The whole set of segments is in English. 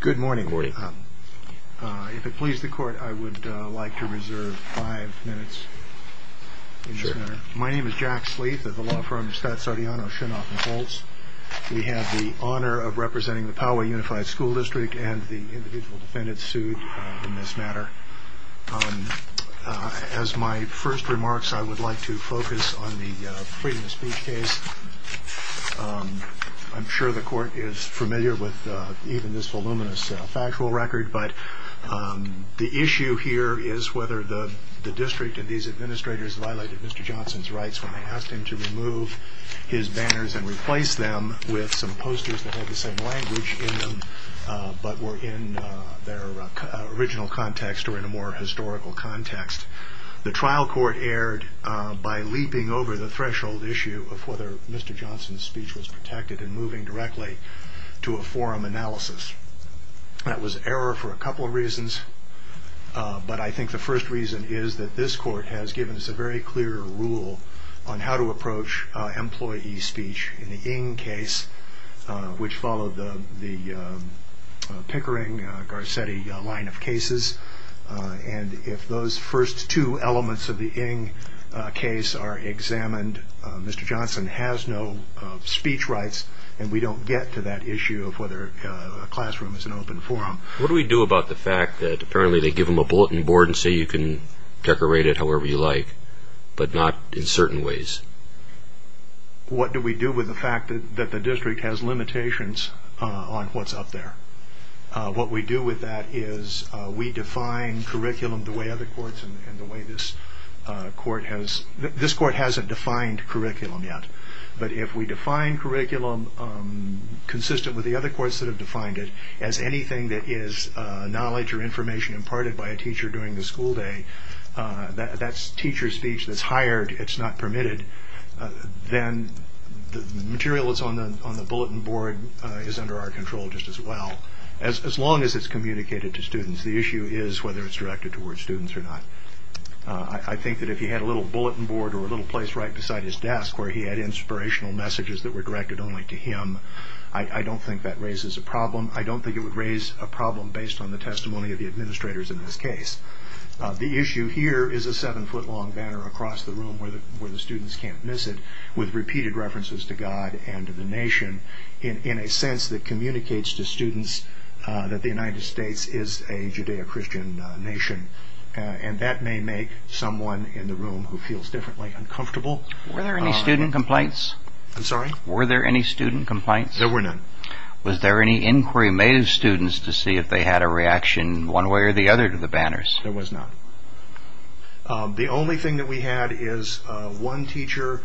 Good morning. If it pleases the court, I would like to reserve five minutes. My name is Jack Sleeth of the law firm StatSardiano, Shinoff & Holtz. We have the honor of representing the Poway Unified School District and the individual defendants sued in this matter. As my first remarks, I would like to focus on the freedom of speech case. I'm sure the court is familiar with even this voluminous factual record, but the issue here is whether the district and these administrators violated Mr. Johnson's rights when they asked him to remove his banners and replace them with some posters that had the same language in them, but were in their original context or in a more historical context. The trial court erred by leaping over the threshold issue of whether Mr. Johnson's speech was protected and moving directly to a forum analysis. That was error for a couple of reasons, but I think the first reason is that this court has given us a very clear rule on how to approach employee speech in the Ng case, which followed the Pickering-Garcetti line of cases. If those first two elements of the Ng case are examined, Mr. Johnson has no speech rights and we don't get to that issue of whether a classroom is an open forum. What do we do about the fact that apparently they give him a bulletin board and say you can decorate it however you like, but not in certain ways? What do we do with the fact that the district has limitations on what's up there? What we do with that is we define curriculum the way other courts and the way this court has. This court hasn't defined curriculum yet, but if we define curriculum consistent with the other courts that have defined it as anything that is knowledge or information imparted by a teacher during the school day, that's teacher speech that's hired, it's not permitted, then the material that's on the bulletin board is under our control just as well, as long as it's communicated to students. The issue is whether it's directed towards students or not. I think that if he had a little bulletin board or a little place right beside his desk where he had inspirational messages that were directed only to him, I don't think that raises a problem. I don't think it would raise a problem based on the testimony of the administrators in this case. The issue here is a seven foot long banner across the room where the students can't miss it with repeated references to God and to the nation in a sense that communicates to students that the United States is a Judeo-Christian nation. That may make someone in the room who feels differently uncomfortable. Were there any student complaints? I'm sorry? Were there any student complaints? There were none. Was there any inquiry made of students to see if they had a reaction one way or the other to the banners? There was none. The only thing that we had is one teacher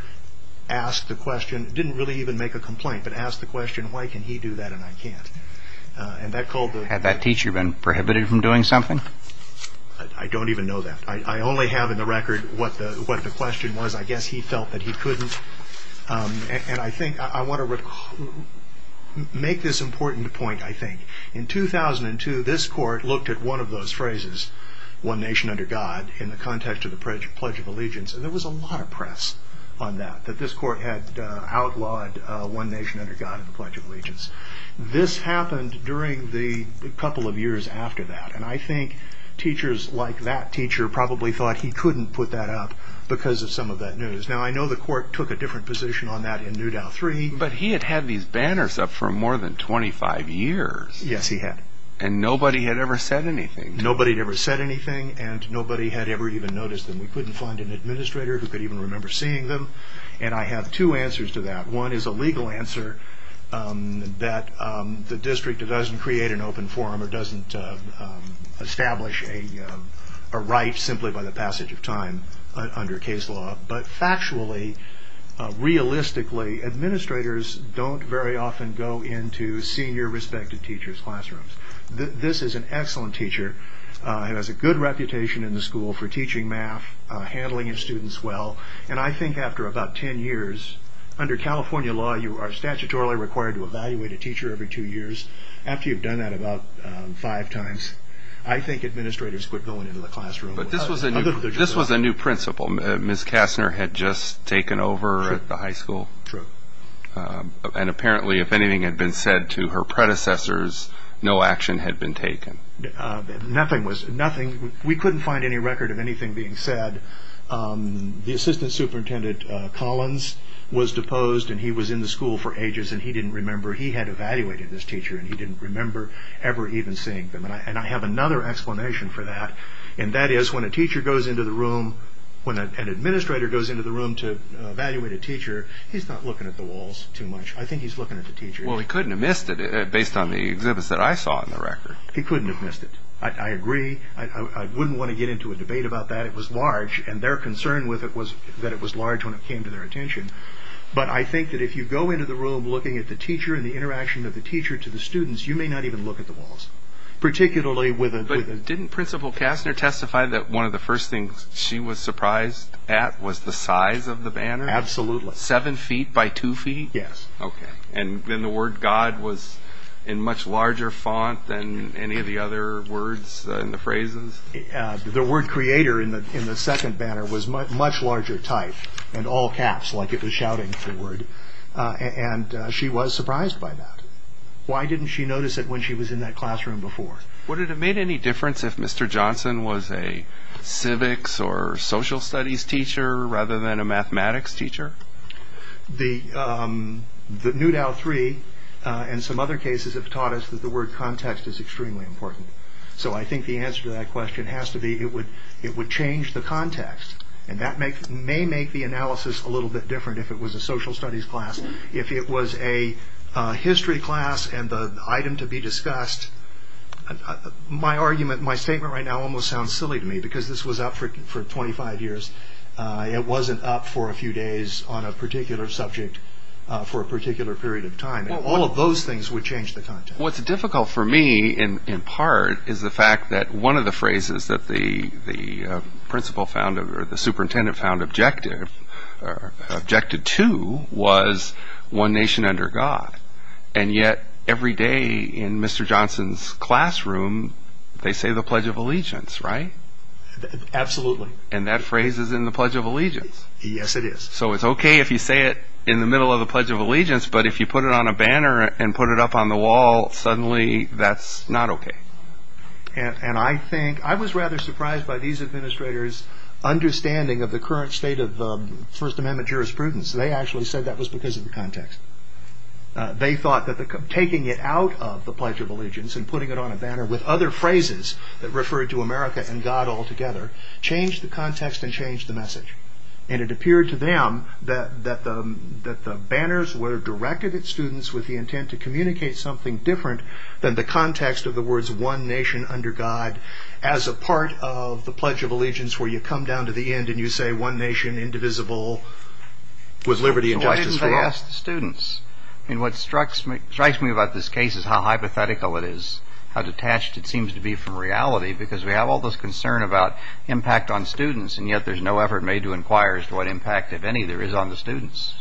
asked the question, didn't really even make a complaint, but asked the question, why can he do that and I can't? Had that teacher been prohibited from doing something? I don't even know that. I only have in the record what the question was. I guess he felt that he couldn't. I want to make this important point, I think. In 2002, this court looked at one of those phrases, one nation under God, in the context of the Pledge of Allegiance. There was a lot of press on that, that this court had outlawed one nation under God in the Pledge of Allegiance. This happened during the couple of years after that, and I think teachers like that teacher probably thought he couldn't put that up because of some of that news. Now, I know the court took a different position on that in Newdow III. But he had had these banners up for more than 25 years. Yes, he had. And nobody had ever said anything. Nobody had ever said anything, and nobody had ever even noticed them. We couldn't find an administrator who could even remember seeing them, and I have two answers to that. One is a legal answer, that the district doesn't create an open forum or doesn't establish a right simply by the passage of time under case law. But factually, realistically, administrators don't very often go into senior respected teachers' classrooms. This is an excellent teacher. He has a good reputation in the school for teaching math, handling his students well. And I think after about 10 years, under California law, you are statutorily required to evaluate a teacher every two years. After you've done that about five times, I think administrators quit going into the classroom. But this was a new principle. Ms. Kastner had just taken over at the high school. True. And apparently, if anything had been said to her predecessors, no action had been taken. Nothing was – we couldn't find any record of anything being said. The assistant superintendent, Collins, was deposed, and he was in the school for ages, and he didn't remember. He had evaluated this teacher, and he didn't remember ever even seeing them. And I have another explanation for that, and that is when a teacher goes into the room, when an administrator goes into the room to evaluate a teacher, he's not looking at the walls too much. I think he's looking at the teacher. Well, he couldn't have missed it, based on the exhibits that I saw in the record. He couldn't have missed it. I agree. I wouldn't want to get into a debate about that. It was large, and their concern with it was that it was large when it came to their attention. But I think that if you go into the room looking at the teacher and the interaction of the teacher to the students, you may not even look at the walls, particularly with a – But didn't Principal Kastner testify that one of the first things she was surprised at was the size of the banner? Absolutely. Seven feet by two feet? Yes. Okay. And then the word God was in much larger font than any of the other words in the phrases? The word creator in the second banner was much larger type, and all caps, like it was shouting the word. And she was surprised by that. Why didn't she notice it when she was in that classroom before? Would it have made any difference if Mr. Johnson was a civics or social studies teacher rather than a mathematics teacher? The New Dow Three and some other cases have taught us that the word context is extremely important. So I think the answer to that question has to be it would change the context, and that may make the analysis a little bit different if it was a social studies class. If it was a history class and the item to be discussed, my argument, my statement right now almost sounds silly to me, because this was up for 25 years. It wasn't up for a few days on a particular subject for a particular period of time. All of those things would change the context. What's difficult for me in part is the fact that one of the phrases that the principal found or the superintendent found objective, objected to, was one nation under God. And yet every day in Mr. Johnson's classroom they say the Pledge of Allegiance, right? Absolutely. And that phrase is in the Pledge of Allegiance. Yes, it is. So it's okay if you say it in the middle of the Pledge of Allegiance, but if you put it on a banner and put it up on the wall, suddenly that's not okay. And I think I was rather surprised by these administrators' understanding of the current state of First Amendment jurisprudence. They actually said that was because of the context. They thought that taking it out of the Pledge of Allegiance and putting it on a banner with other phrases that referred to America and God altogether changed the context and changed the message. And it appeared to them that the banners were directed at students with the intent to communicate something different than the context of the words one nation under God as a part of the Pledge of Allegiance where you come down to the end and you say one nation, indivisible, with liberty and justice for all. Why didn't they ask the students? What strikes me about this case is how hypothetical it is, how detached it seems to be from reality, because we have all this concern about impact on students, and yet there's no effort made to inquire as to what impact, if any, there is on the students.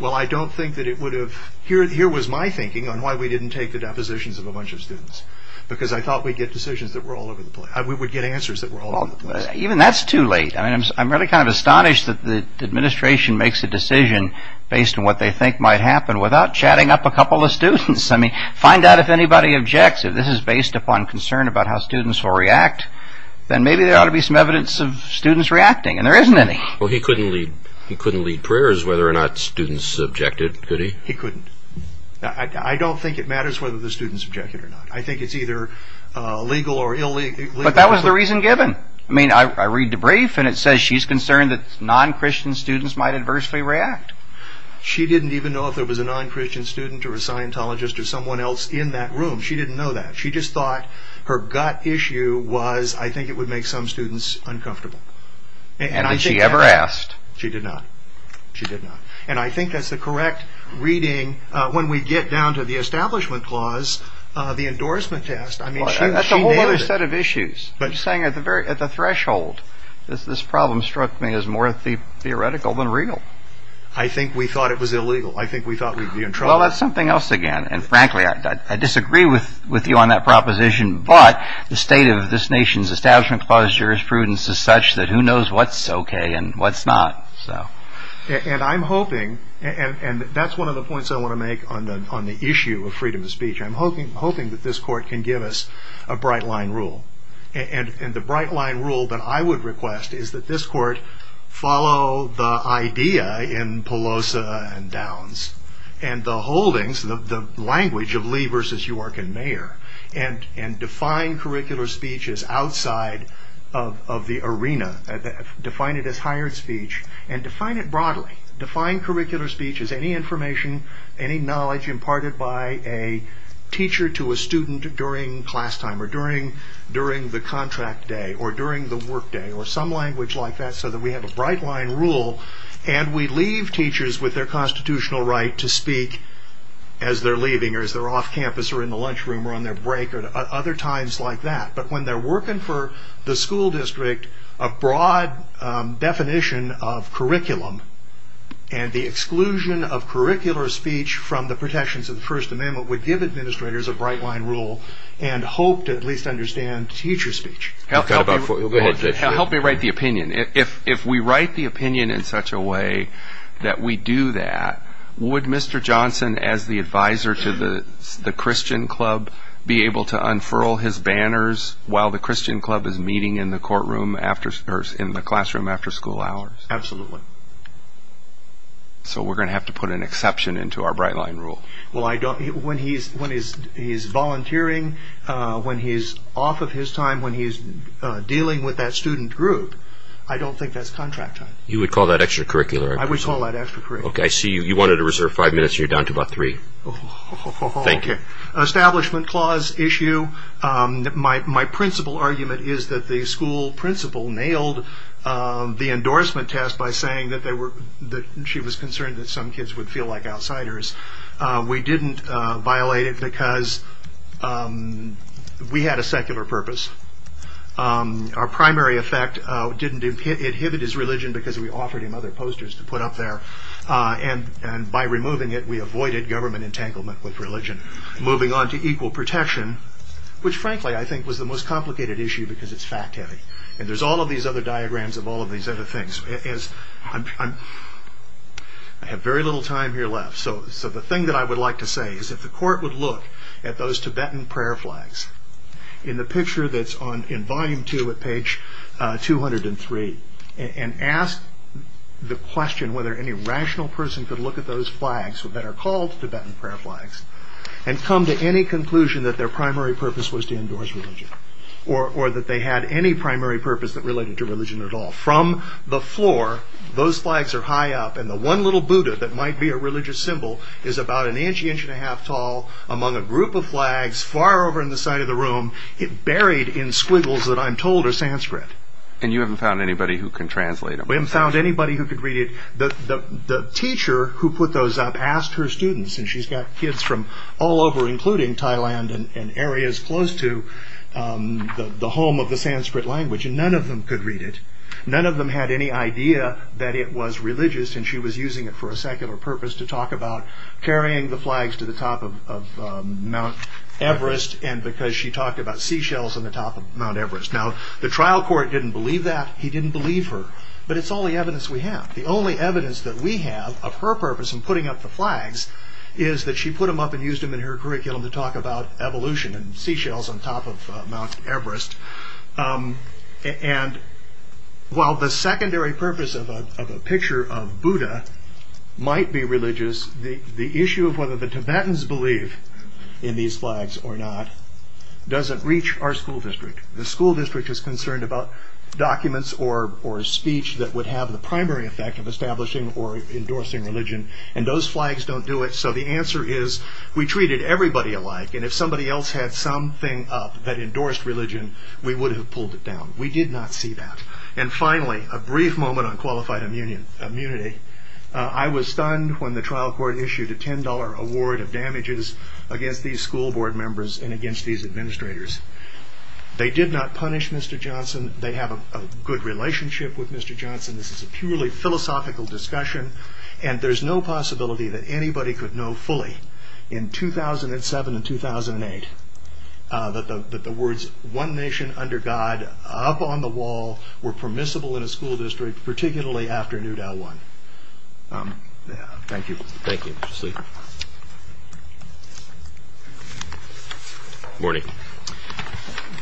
Well, I don't think that it would have... Here was my thinking on why we didn't take the depositions of a bunch of students, because I thought we'd get decisions that were all over the place. We would get answers that were all over the place. Even that's too late. I mean, I'm really kind of astonished that the administration makes a decision based on what they think might happen without chatting up a couple of students. I mean, find out if anybody objects. If this is based upon concern about how students will react, then maybe there ought to be some evidence of students reacting, and there isn't any. Well, he couldn't lead prayers whether or not students objected, could he? He couldn't. I don't think it matters whether the students objected or not. I think it's either legal or illegal. But that was the reason given. I mean, I read the brief, and it says she's concerned that non-Christian students might adversely react. She didn't even know if there was a non-Christian student or a Scientologist or someone else in that room. She didn't know that. She just thought her gut issue was, I think it would make some students uncomfortable. And did she ever ask? She did not. She did not. And I think that's the correct reading when we get down to the establishment clause, the endorsement test. That's a whole other set of issues. I'm saying at the threshold, this problem struck me as more theoretical than real. I think we thought it was illegal. I think we thought we'd be in trouble. Well, that's something else again. And frankly, I disagree with you on that proposition. But the state of this nation's establishment clause jurisprudence is such that who knows what's okay and what's not. And I'm hoping, and that's one of the points I want to make on the issue of freedom of speech. I'm hoping that this court can give us a bright line rule. And the bright line rule that I would request is that this court follow the idea in Pelosa and Downs and the holdings, the language of Lee versus York and Mayer, and define curricular speech as outside of the arena. Define it as hired speech and define it broadly. Define curricular speech as any information, any knowledge imparted by a teacher to a student during class time or during the contract day or during the work day or some language like that so that we have a bright line rule and we leave teachers with their constitutional right to speak as they're leaving or as they're off campus or in the lunchroom or on their break or other times like that. But when they're working for the school district, a broad definition of curriculum and the exclusion of curricular speech from the protections of the First Amendment would give administrators a bright line rule and hope to at least understand teacher speech. Help me write the opinion. If we write the opinion in such a way that we do that, would Mr. Johnson as the advisor to the Christian Club be able to unfurl his banners while the Christian Club is meeting in the classroom after school hours? Absolutely. So we're going to have to put an exception into our bright line rule. When he's volunteering, when he's off of his time, when he's dealing with that student group, I don't think that's contract time. You would call that extracurricular? I would call that extracurricular. Okay, I see you wanted to reserve five minutes and you're down to about three. Thank you. Establishment clause issue. My principal argument is that the school principal nailed the endorsement test by saying that she was concerned that some kids would feel like outsiders. We didn't violate it because we had a secular purpose. Our primary effect didn't inhibit his religion because we offered him other posters to put up there. And by removing it, we avoided government entanglement with religion. Moving on to equal protection, which frankly I think was the most complicated issue because it's fact heavy. And there's all of these other diagrams of all of these other things. I have very little time here left. So the thing that I would like to say is if the court would look at those Tibetan prayer flags in the picture that's in volume two at page 203 and ask the question whether any rational person could look at those flags that are called Tibetan prayer flags and come to any conclusion that their primary purpose was to endorse religion or that they had any primary purpose that related to religion at all. From the floor, those flags are high up and the one little Buddha that might be a religious symbol is about an inch, inch and a half tall among a group of flags far over in the side of the room buried in squiggles that I'm told are Sanskrit. And you haven't found anybody who can translate them? We haven't found anybody who could read it. The teacher who put those up asked her students, and she's got kids from all over including Thailand and areas close to the home of the Sanskrit language, and none of them could read it. None of them had any idea that it was religious and she was using it for a secular purpose to talk about carrying the flags to the top of Mount Everest and because she talked about seashells on the top of Mount Everest. Now, the trial court didn't believe that. He didn't believe her. But it's all the evidence we have. The only evidence that we have of her purpose in putting up the flags is that she put them up and used them in her curriculum to talk about evolution and seashells on top of Mount Everest. And while the secondary purpose of a picture of Buddha might be religious, the issue of whether the Tibetans believe in these flags or not doesn't reach our school district. The school district is concerned about documents or speech that would have the primary effect of establishing or endorsing religion and those flags don't do it, so the answer is we treated everybody alike and if somebody else had something up that endorsed religion, we would have pulled it down. We did not see that. And finally, a brief moment on qualified immunity. I was stunned when the trial court issued a $10 award of damages against these school board members and against these administrators. They did not punish Mr. Johnson. They have a good relationship with Mr. Johnson. This is a purely philosophical discussion and there's no possibility that anybody could know fully. In 2007 and 2008, that the words, one nation under God, up on the wall, were permissible in a school district, particularly after Newt L. Warren. Thank you. Thank you. Good morning.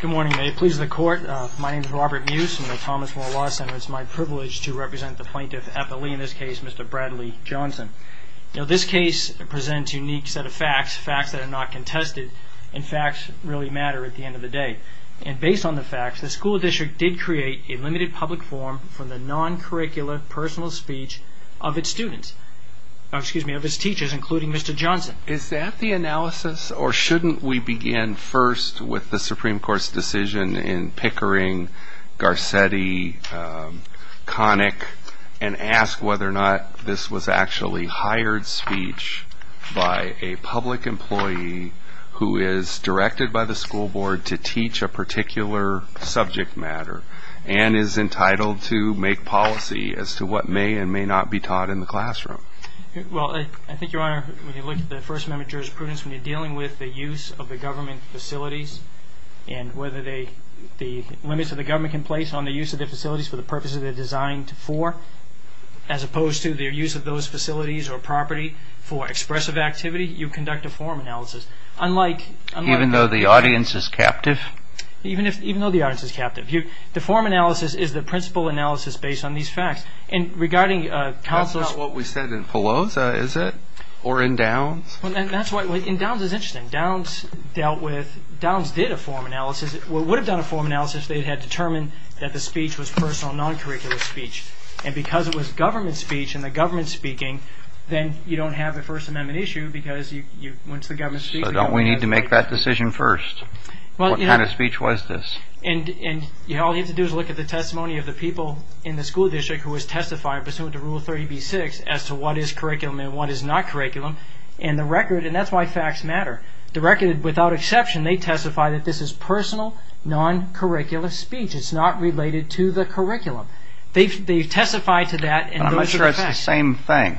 Good morning. May it please the court. My name is Robert Muse. I'm with the Thomas Moore Law Center. It's my privilege to represent the plaintiff at the Lee, in this case, Mr. Bradley Johnson. This case presents a unique set of facts, facts that are not contested, and facts that really matter at the end of the day. And based on the facts, the school district did create a limited public forum for the non-curricular personal speech of its teachers, including Mr. Johnson. Is that the analysis, or shouldn't we begin first with the Supreme Court's decision in Pickering, Garcetti, Connick, and ask whether or not this was actually hired speech by a public employee, who is directed by the school board to teach a particular subject matter, and is entitled to make policy as to what may and may not be taught in the classroom? Well, I think, Your Honor, when you look at the First Amendment jurisprudence, when you're dealing with the use of the government facilities, and whether the limits of the government can place on the use of the facilities for the purposes they're designed for, as opposed to their use of those facilities or property for expressive activity, you conduct a forum analysis. Even though the audience is captive? Even though the audience is captive. The forum analysis is the principal analysis based on these facts. And regarding counsel's... That's not what we said in Paloza, is it? Or in Downs? In Downs it's interesting. In Downs dealt with... Downs did a forum analysis. Would have done a forum analysis if they had determined that the speech was personal, non-curricular speech. And because it was government speech and the government speaking, then you don't have the First Amendment issue because you went to the government speech... So don't we need to make that decision first? What kind of speech was this? And all you have to do is look at the testimony of the people in the school district who was testifying pursuant to Rule 30b-6 as to what is curriculum and what is not curriculum. And that's why facts matter. The record without exception, they testify that this is personal, non-curricular speech. It's not related to the curriculum. They testify to that and those are the facts. I'm not sure it's the same thing.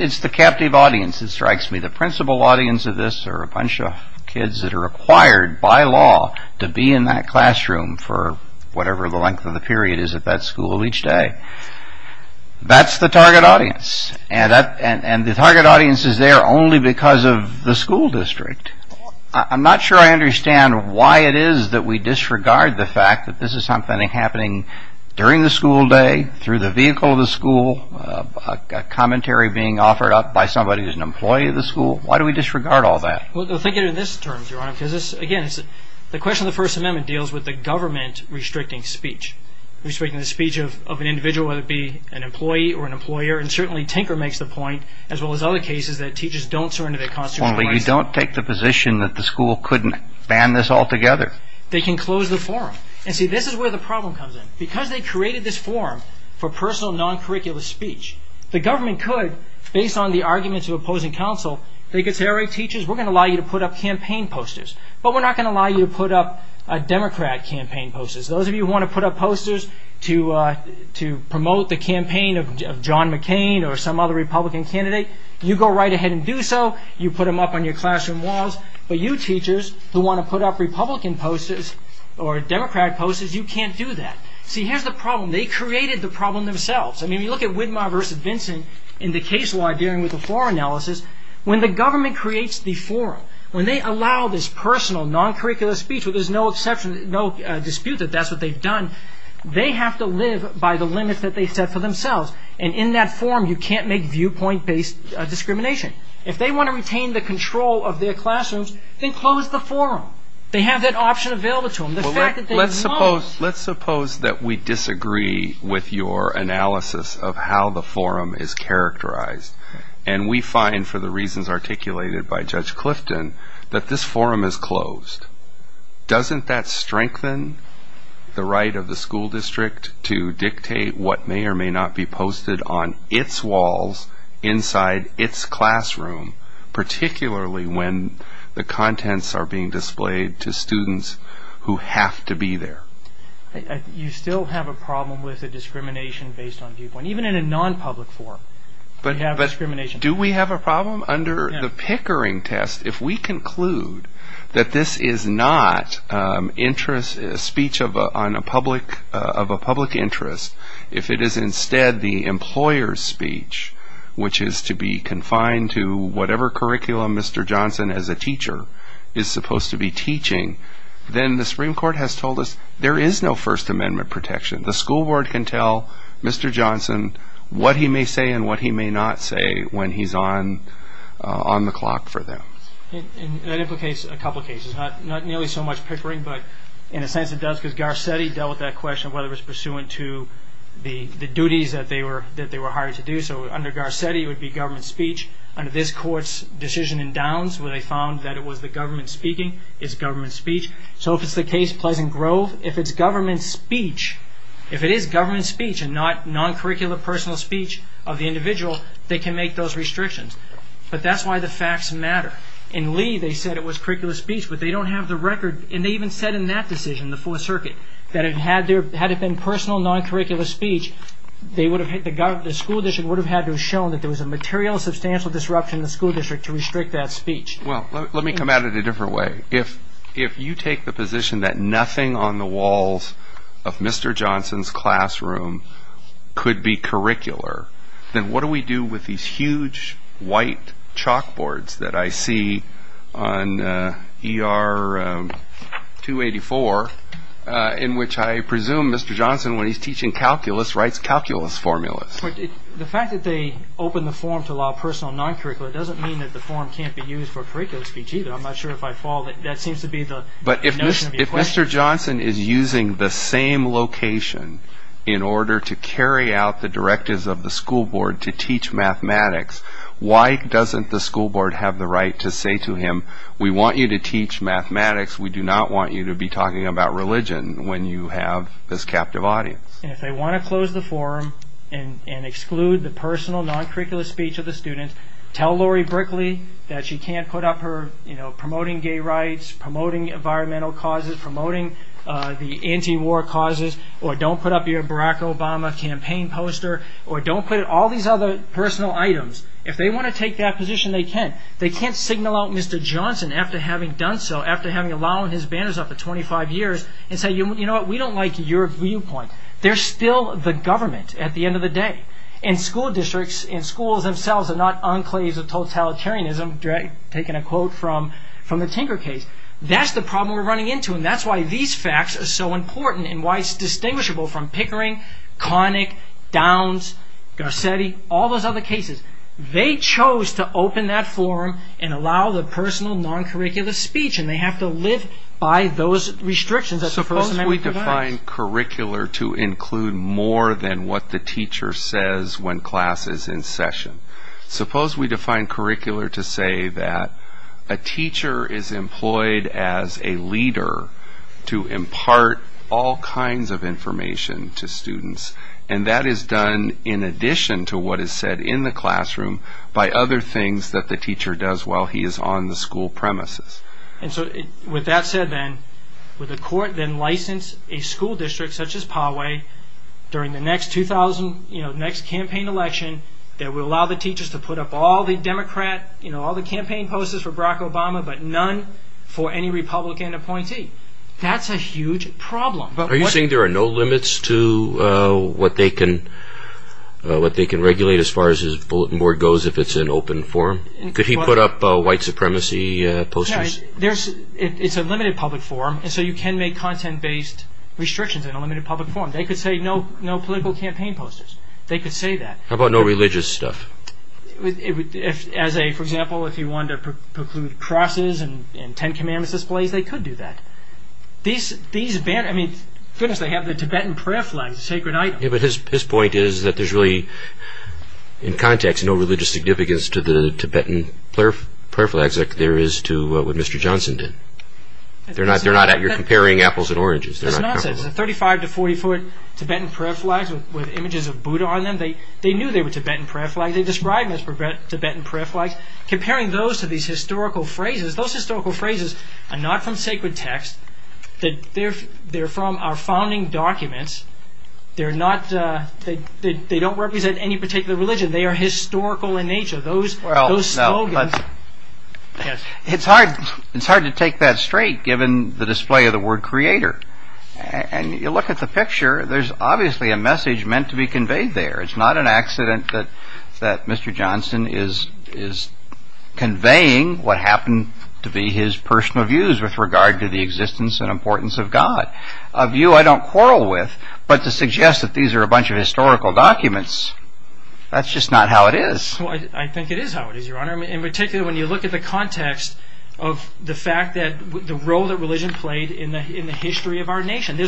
It's the captive audience that strikes me. The principal audience of this are a bunch of kids that are required by law to be in that classroom for whatever the length of the period is at that school each day. That's the target audience. And the target audience is there only because of the school district. I'm not sure I understand why it is that we disregard the fact that this is something that's happening during the school day, through the vehicle of the school, a commentary being offered up by somebody who's an employee of the school. Why do we disregard all that? Well, think of it in this term, Your Honor, because, again, the question of the First Amendment deals with the government restricting speech, restricting the speech of an individual, whether it be an employee or an employer, and certainly Tinker makes the point as well as other cases that teachers don't surrender their constitutional rights. Only you don't take the position that the school couldn't ban this altogether. They can close the forum. And, see, this is where the problem comes in. Because they created this forum for personal non-curricular speech, the government could, based on the arguments of opposing counsel, they could say, All right, teachers, we're going to allow you to put up campaign posters, but we're not going to allow you to put up Democrat campaign posters. Those of you who want to put up posters to promote the campaign of John McCain or some other Republican candidate, you go right ahead and do so. You put them up on your classroom walls. But you teachers who want to put up Republican posters or Democrat posters, you can't do that. See, here's the problem. They created the problem themselves. I mean, you look at Widmar v. Vinson in the case law dealing with the forum analysis, when the government creates the forum, when they allow this personal non-curricular speech where there's no dispute that that's what they've done, they have to live by the limits that they set for themselves. And in that forum, you can't make viewpoint-based discrimination. If they want to retain the control of their classrooms, then close the forum. They have that option available to them. The fact that they won't. Let's suppose that we disagree with your analysis of how the forum is characterized, and we find, for the reasons articulated by Judge Clifton, that this forum is closed. Doesn't that strengthen the right of the school district to dictate what may or may not be posted on its walls inside its classroom, particularly when the contents are being displayed to students who have to be there? You still have a problem with the discrimination based on viewpoint, even in a non-public forum. But do we have a problem? Under the Pickering test, if we conclude that this is not a speech of a public interest, if it is instead the employer's speech, which is to be confined to whatever curriculum Mr. Johnson, as a teacher, is supposed to be teaching, then the Supreme Court has told us there is no First Amendment protection. The school board can tell Mr. Johnson what he may say and what he may not say when he's on the clock for them. That implicates a couple of cases. Not nearly so much Pickering, but in a sense it does, because Garcetti dealt with that question of whether it was pursuant to the duties that they were hired to do. Under Garcetti, it would be government speech. Under this Court's decision in Downs, where they found that it was the government speaking, it's government speech. So if it's the case Pleasant Grove, if it's government speech, if it is government speech and not non-curricular personal speech of the individual, they can make those restrictions. But that's why the facts matter. In Lee, they said it was curricular speech, but they don't have the record. And they even said in that decision, the Fourth Circuit, that had it been personal, non-curricular speech, the school district would have had to have shown that there was a material, substantial disruption in the school district to restrict that speech. Well, let me come at it a different way. If you take the position that nothing on the walls of Mr. Johnson's classroom could be curricular, then what do we do with these huge white chalkboards that I see on ER 284, in which I presume Mr. Johnson, when he's teaching calculus, writes calculus formulas? The fact that they opened the forum to allow personal non-curricular doesn't mean that the forum can't be used for curricular speech either. I'm not sure if I fall. That seems to be the notion of the equation. But if Mr. Johnson is using the same location in order to carry out the directives of the school board to teach mathematics, why doesn't the school board have the right to say to him, we want you to teach mathematics. We do not want you to be talking about religion when you have this captive audience. And if they want to close the forum and exclude the personal non-curricular speech of the students, tell Lori Brickley that she can't put up her promoting gay rights, promoting environmental causes, promoting the anti-war causes, or don't put up your Barack Obama campaign poster, or don't put up all these other personal items. If they want to take that position, they can. They can't signal out Mr. Johnson after having done so, after having allowed his banners up for 25 years, and say, you know what, we don't like your viewpoint. They're still the government at the end of the day. And school districts and schools themselves are not enclaves of totalitarianism, taking a quote from the Tinker case. That's the problem we're running into, and that's why these facts are so important, and why it's distinguishable from Pickering, Connick, Downs, Garcetti, all those other cases. They chose to open that forum and allow the personal non-curricular speech, and they have to live by those restrictions. Suppose we define curricular to include more than what the teacher says when class is in session. Suppose we define curricular to say that a teacher is employed as a leader to impart all kinds of information to students, and that is done in addition to what is said in the classroom by other things that the teacher does while he is on the school premises. And so, with that said then, would the court then license a school district such as Poway during the next campaign election that will allow the teachers to put up all the Democrat, all the campaign posters for Barack Obama, but none for any Republican appointee? That's a huge problem. Are you saying there are no limits to what they can regulate as far as his bulletin board goes if it's an open forum? Could he put up white supremacy posters? It's a limited public forum, so you can make content-based restrictions in a limited public forum. They could say no political campaign posters. They could say that. How about no religious stuff? For example, if you wanted to preclude crosses and Ten Commandments displays, they could do that. Goodness, they have the Tibetan prayer flags, a sacred item. But his point is that there's really, in context, no religious significance to the Tibetan prayer flags like there is to what Mr. Johnson did. You're comparing apples and oranges. That's nonsense. Thirty-five to forty-foot Tibetan prayer flags with images of Buddha on them, they knew they were Tibetan prayer flags. They described them as Tibetan prayer flags. Comparing those to these historical phrases, those historical phrases are not from sacred text. They're from our founding documents. They don't represent any particular religion. They are historical in nature. Those slogans... It's hard to take that straight given the display of the word creator. And you look at the picture, there's obviously a message meant to be conveyed there. It's not an accident that Mr. Johnson is conveying what happened to be his personal views with regard to the existence and importance of God. A view I don't quarrel with, but to suggest that these are a bunch of historical documents, that's just not how it is. I think it is how it is, Your Honor. In particular, when you look at the context of the fact that the role that religion played in the history of our nation.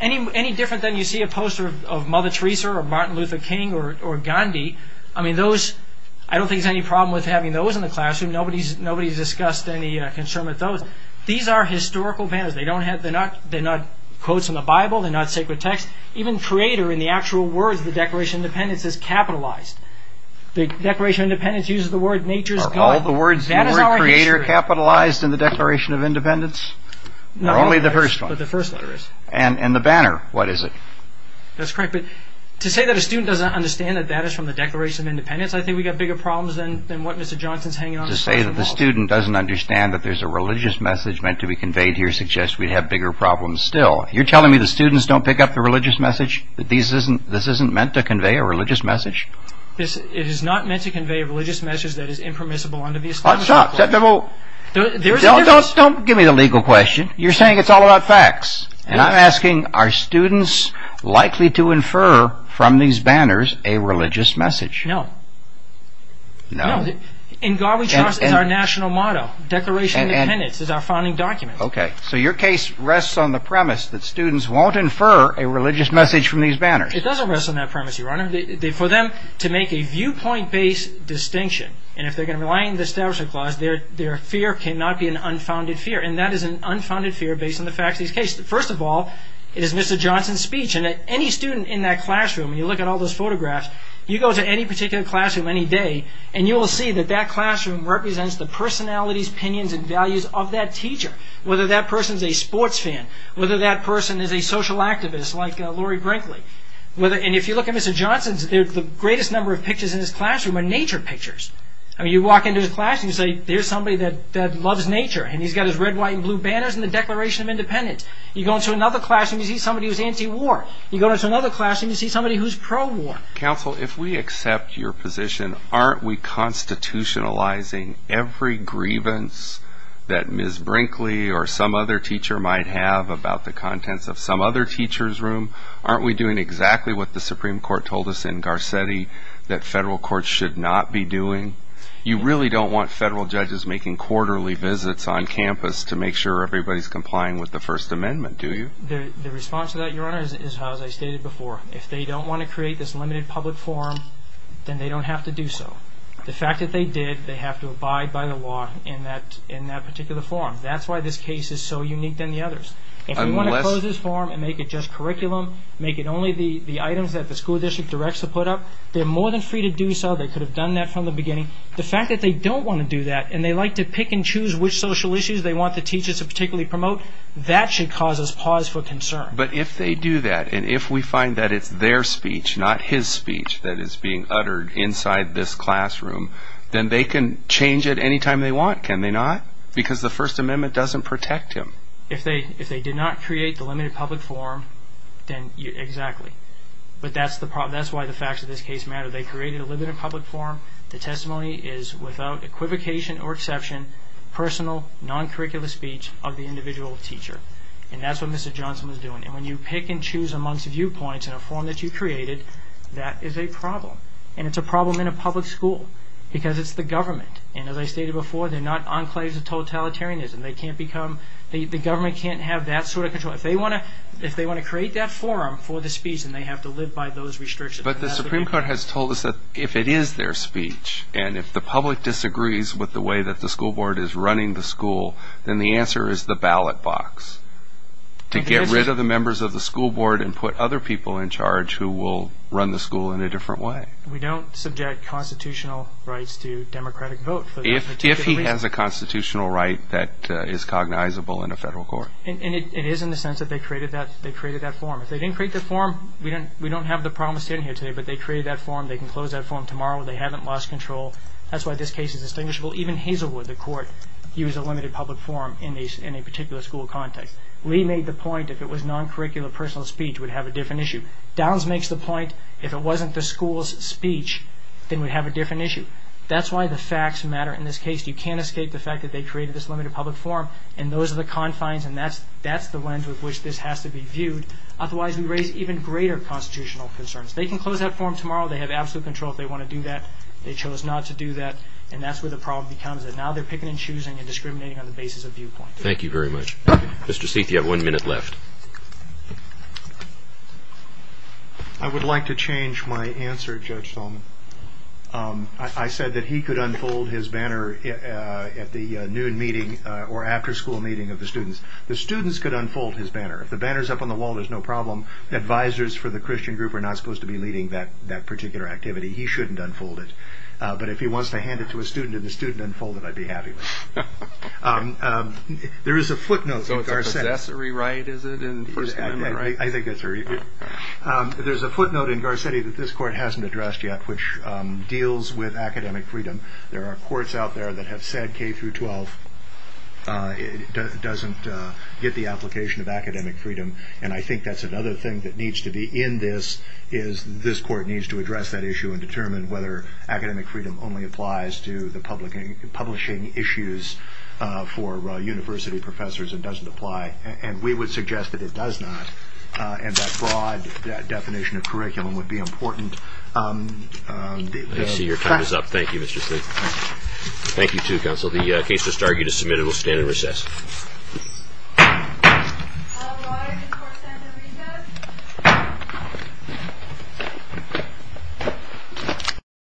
Any different than you see a poster of Mother Teresa or Martin Luther King or Gandhi, I don't think there's any problem with having those in the classroom. Nobody's discussed any concern with those. These are historical banners. They're not quotes from the Bible. They're not sacred text. Even creator in the actual words of the Declaration of Independence is capitalized. The Declaration of Independence uses the word nature... Are all the words in the word creator capitalized in the Declaration of Independence? No. Only the first one. But the first letter is. And the banner, what is it? That's correct. But to say that a student doesn't understand that that is from the Declaration of Independence, I think we've got bigger problems than what Mr. Johnson's hanging on the side of the wall. To say that the student doesn't understand that there's a religious message meant to be conveyed here suggests we have bigger problems still. You're telling me the students don't pick up the religious message? That this isn't meant to convey a religious message? It is not meant to convey a religious message that is impermissible under the established law. Stop. Don't give me the legal question. You're saying it's all about facts. And I'm asking, are students likely to infer from these banners a religious message? No. No? No. In God we trust is our national motto. Declaration of Independence is our founding document. Okay. So your case rests on the premise that students won't infer a religious message from these banners. It doesn't rest on that premise, Your Honor. For them to make a viewpoint-based distinction, and if they're going to rely on the establishment clause, their fear cannot be an unfounded fear. And that is an unfounded fear based on the facts of this case. First of all, it is Mr. Johnson's speech. And any student in that classroom, when you look at all those photographs, you go to any particular classroom any day, and you will see that that classroom represents the personalities, opinions, and values of that teacher, whether that person is a sports fan, whether that person is a social activist like Lori Brinkley. And if you look at Mr. Johnson's, the greatest number of pictures in his classroom are nature pictures. I mean, you walk into his classroom, you say, there's somebody that loves nature, and he's got his red, white, and blue banners and the Declaration of Independence. You go into another classroom, you see somebody who's anti-war. You go into another classroom, you see somebody who's pro-war. Counsel, if we accept your position, aren't we constitutionalizing every grievance that Ms. Brinkley or some other teacher might have about the contents of some other teacher's room? Aren't we doing exactly what the Supreme Court told us in Garcetti that federal courts should not be doing? You really don't want federal judges making quarterly visits on campus to make sure everybody's complying with the First Amendment, do you? The response to that, Your Honor, is as I stated before. If they don't want to create this limited public forum, then they don't have to do so. The fact that they did, they have to abide by the law in that particular forum. That's why this case is so unique than the others. If we want to close this forum and make it just curriculum, make it only the items that the school district directs to put up, they're more than free to do so. They could have done that from the beginning. The fact that they don't want to do that, and they like to pick and choose which social issues they want the teachers to particularly promote, that should cause us pause for concern. But if they do that, and if we find that it's their speech, not his speech that is being uttered inside this classroom, then they can change it any time they want, can they not? Because the First Amendment doesn't protect him. If they did not create the limited public forum, then exactly. But that's why the facts of this case matter. Whether they created a limited public forum, the testimony is without equivocation or exception, personal, non-curricular speech of the individual teacher. And that's what Mr. Johnson was doing. And when you pick and choose amongst viewpoints in a forum that you created, that is a problem. And it's a problem in a public school because it's the government. And as I stated before, they're not enclaves of totalitarianism. They can't become, the government can't have that sort of control. If they want to create that forum for the speech, then they have to live by those restrictions. But the Supreme Court has told us that if it is their speech, and if the public disagrees with the way that the school board is running the school, then the answer is the ballot box to get rid of the members of the school board and put other people in charge who will run the school in a different way. We don't subject constitutional rights to democratic vote. If he has a constitutional right that is cognizable in a federal court. And it is in the sense that they created that forum. If they didn't create the forum, we don't have the promise in here today, but they created that forum, they can close that forum tomorrow. They haven't lost control. That's why this case is distinguishable. Even Hazelwood, the court, used a limited public forum in a particular school context. Lee made the point if it was non-curricular personal speech would have a different issue. Downs makes the point if it wasn't the school's speech, then we'd have a different issue. That's why the facts matter in this case. You can't escape the fact that they created this limited public forum. Otherwise, we raise even greater constitutional concerns. They can close that forum tomorrow. They have absolute control if they want to do that. They chose not to do that, and that's where the problem becomes. Now they're picking and choosing and discriminating on the basis of viewpoint. Thank you very much. Mr. Seeth, you have one minute left. I would like to change my answer, Judge Solomon. I said that he could unfold his banner at the noon meeting or after school meeting of the students. The students could unfold his banner. If the banner's up on the wall, there's no problem. Advisors for the Christian group are not supposed to be leading that particular activity. He shouldn't unfold it. But if he wants to hand it to a student and the student unfolds it, I'd be happy with it. There is a footnote in Garcetti that this court hasn't addressed yet, which deals with academic freedom. There are courts out there that have said K-12 doesn't get the application of academic freedom, and I think that's another thing that needs to be in this is this court needs to address that issue and determine whether academic freedom only applies to the publishing issues for university professors and doesn't apply, and we would suggest that it does not. And that broad definition of curriculum would be important. I see your time is up. Thank you, Mr. Slink. Thank you, too, counsel. The case just argued is submitted. We'll stand in recess.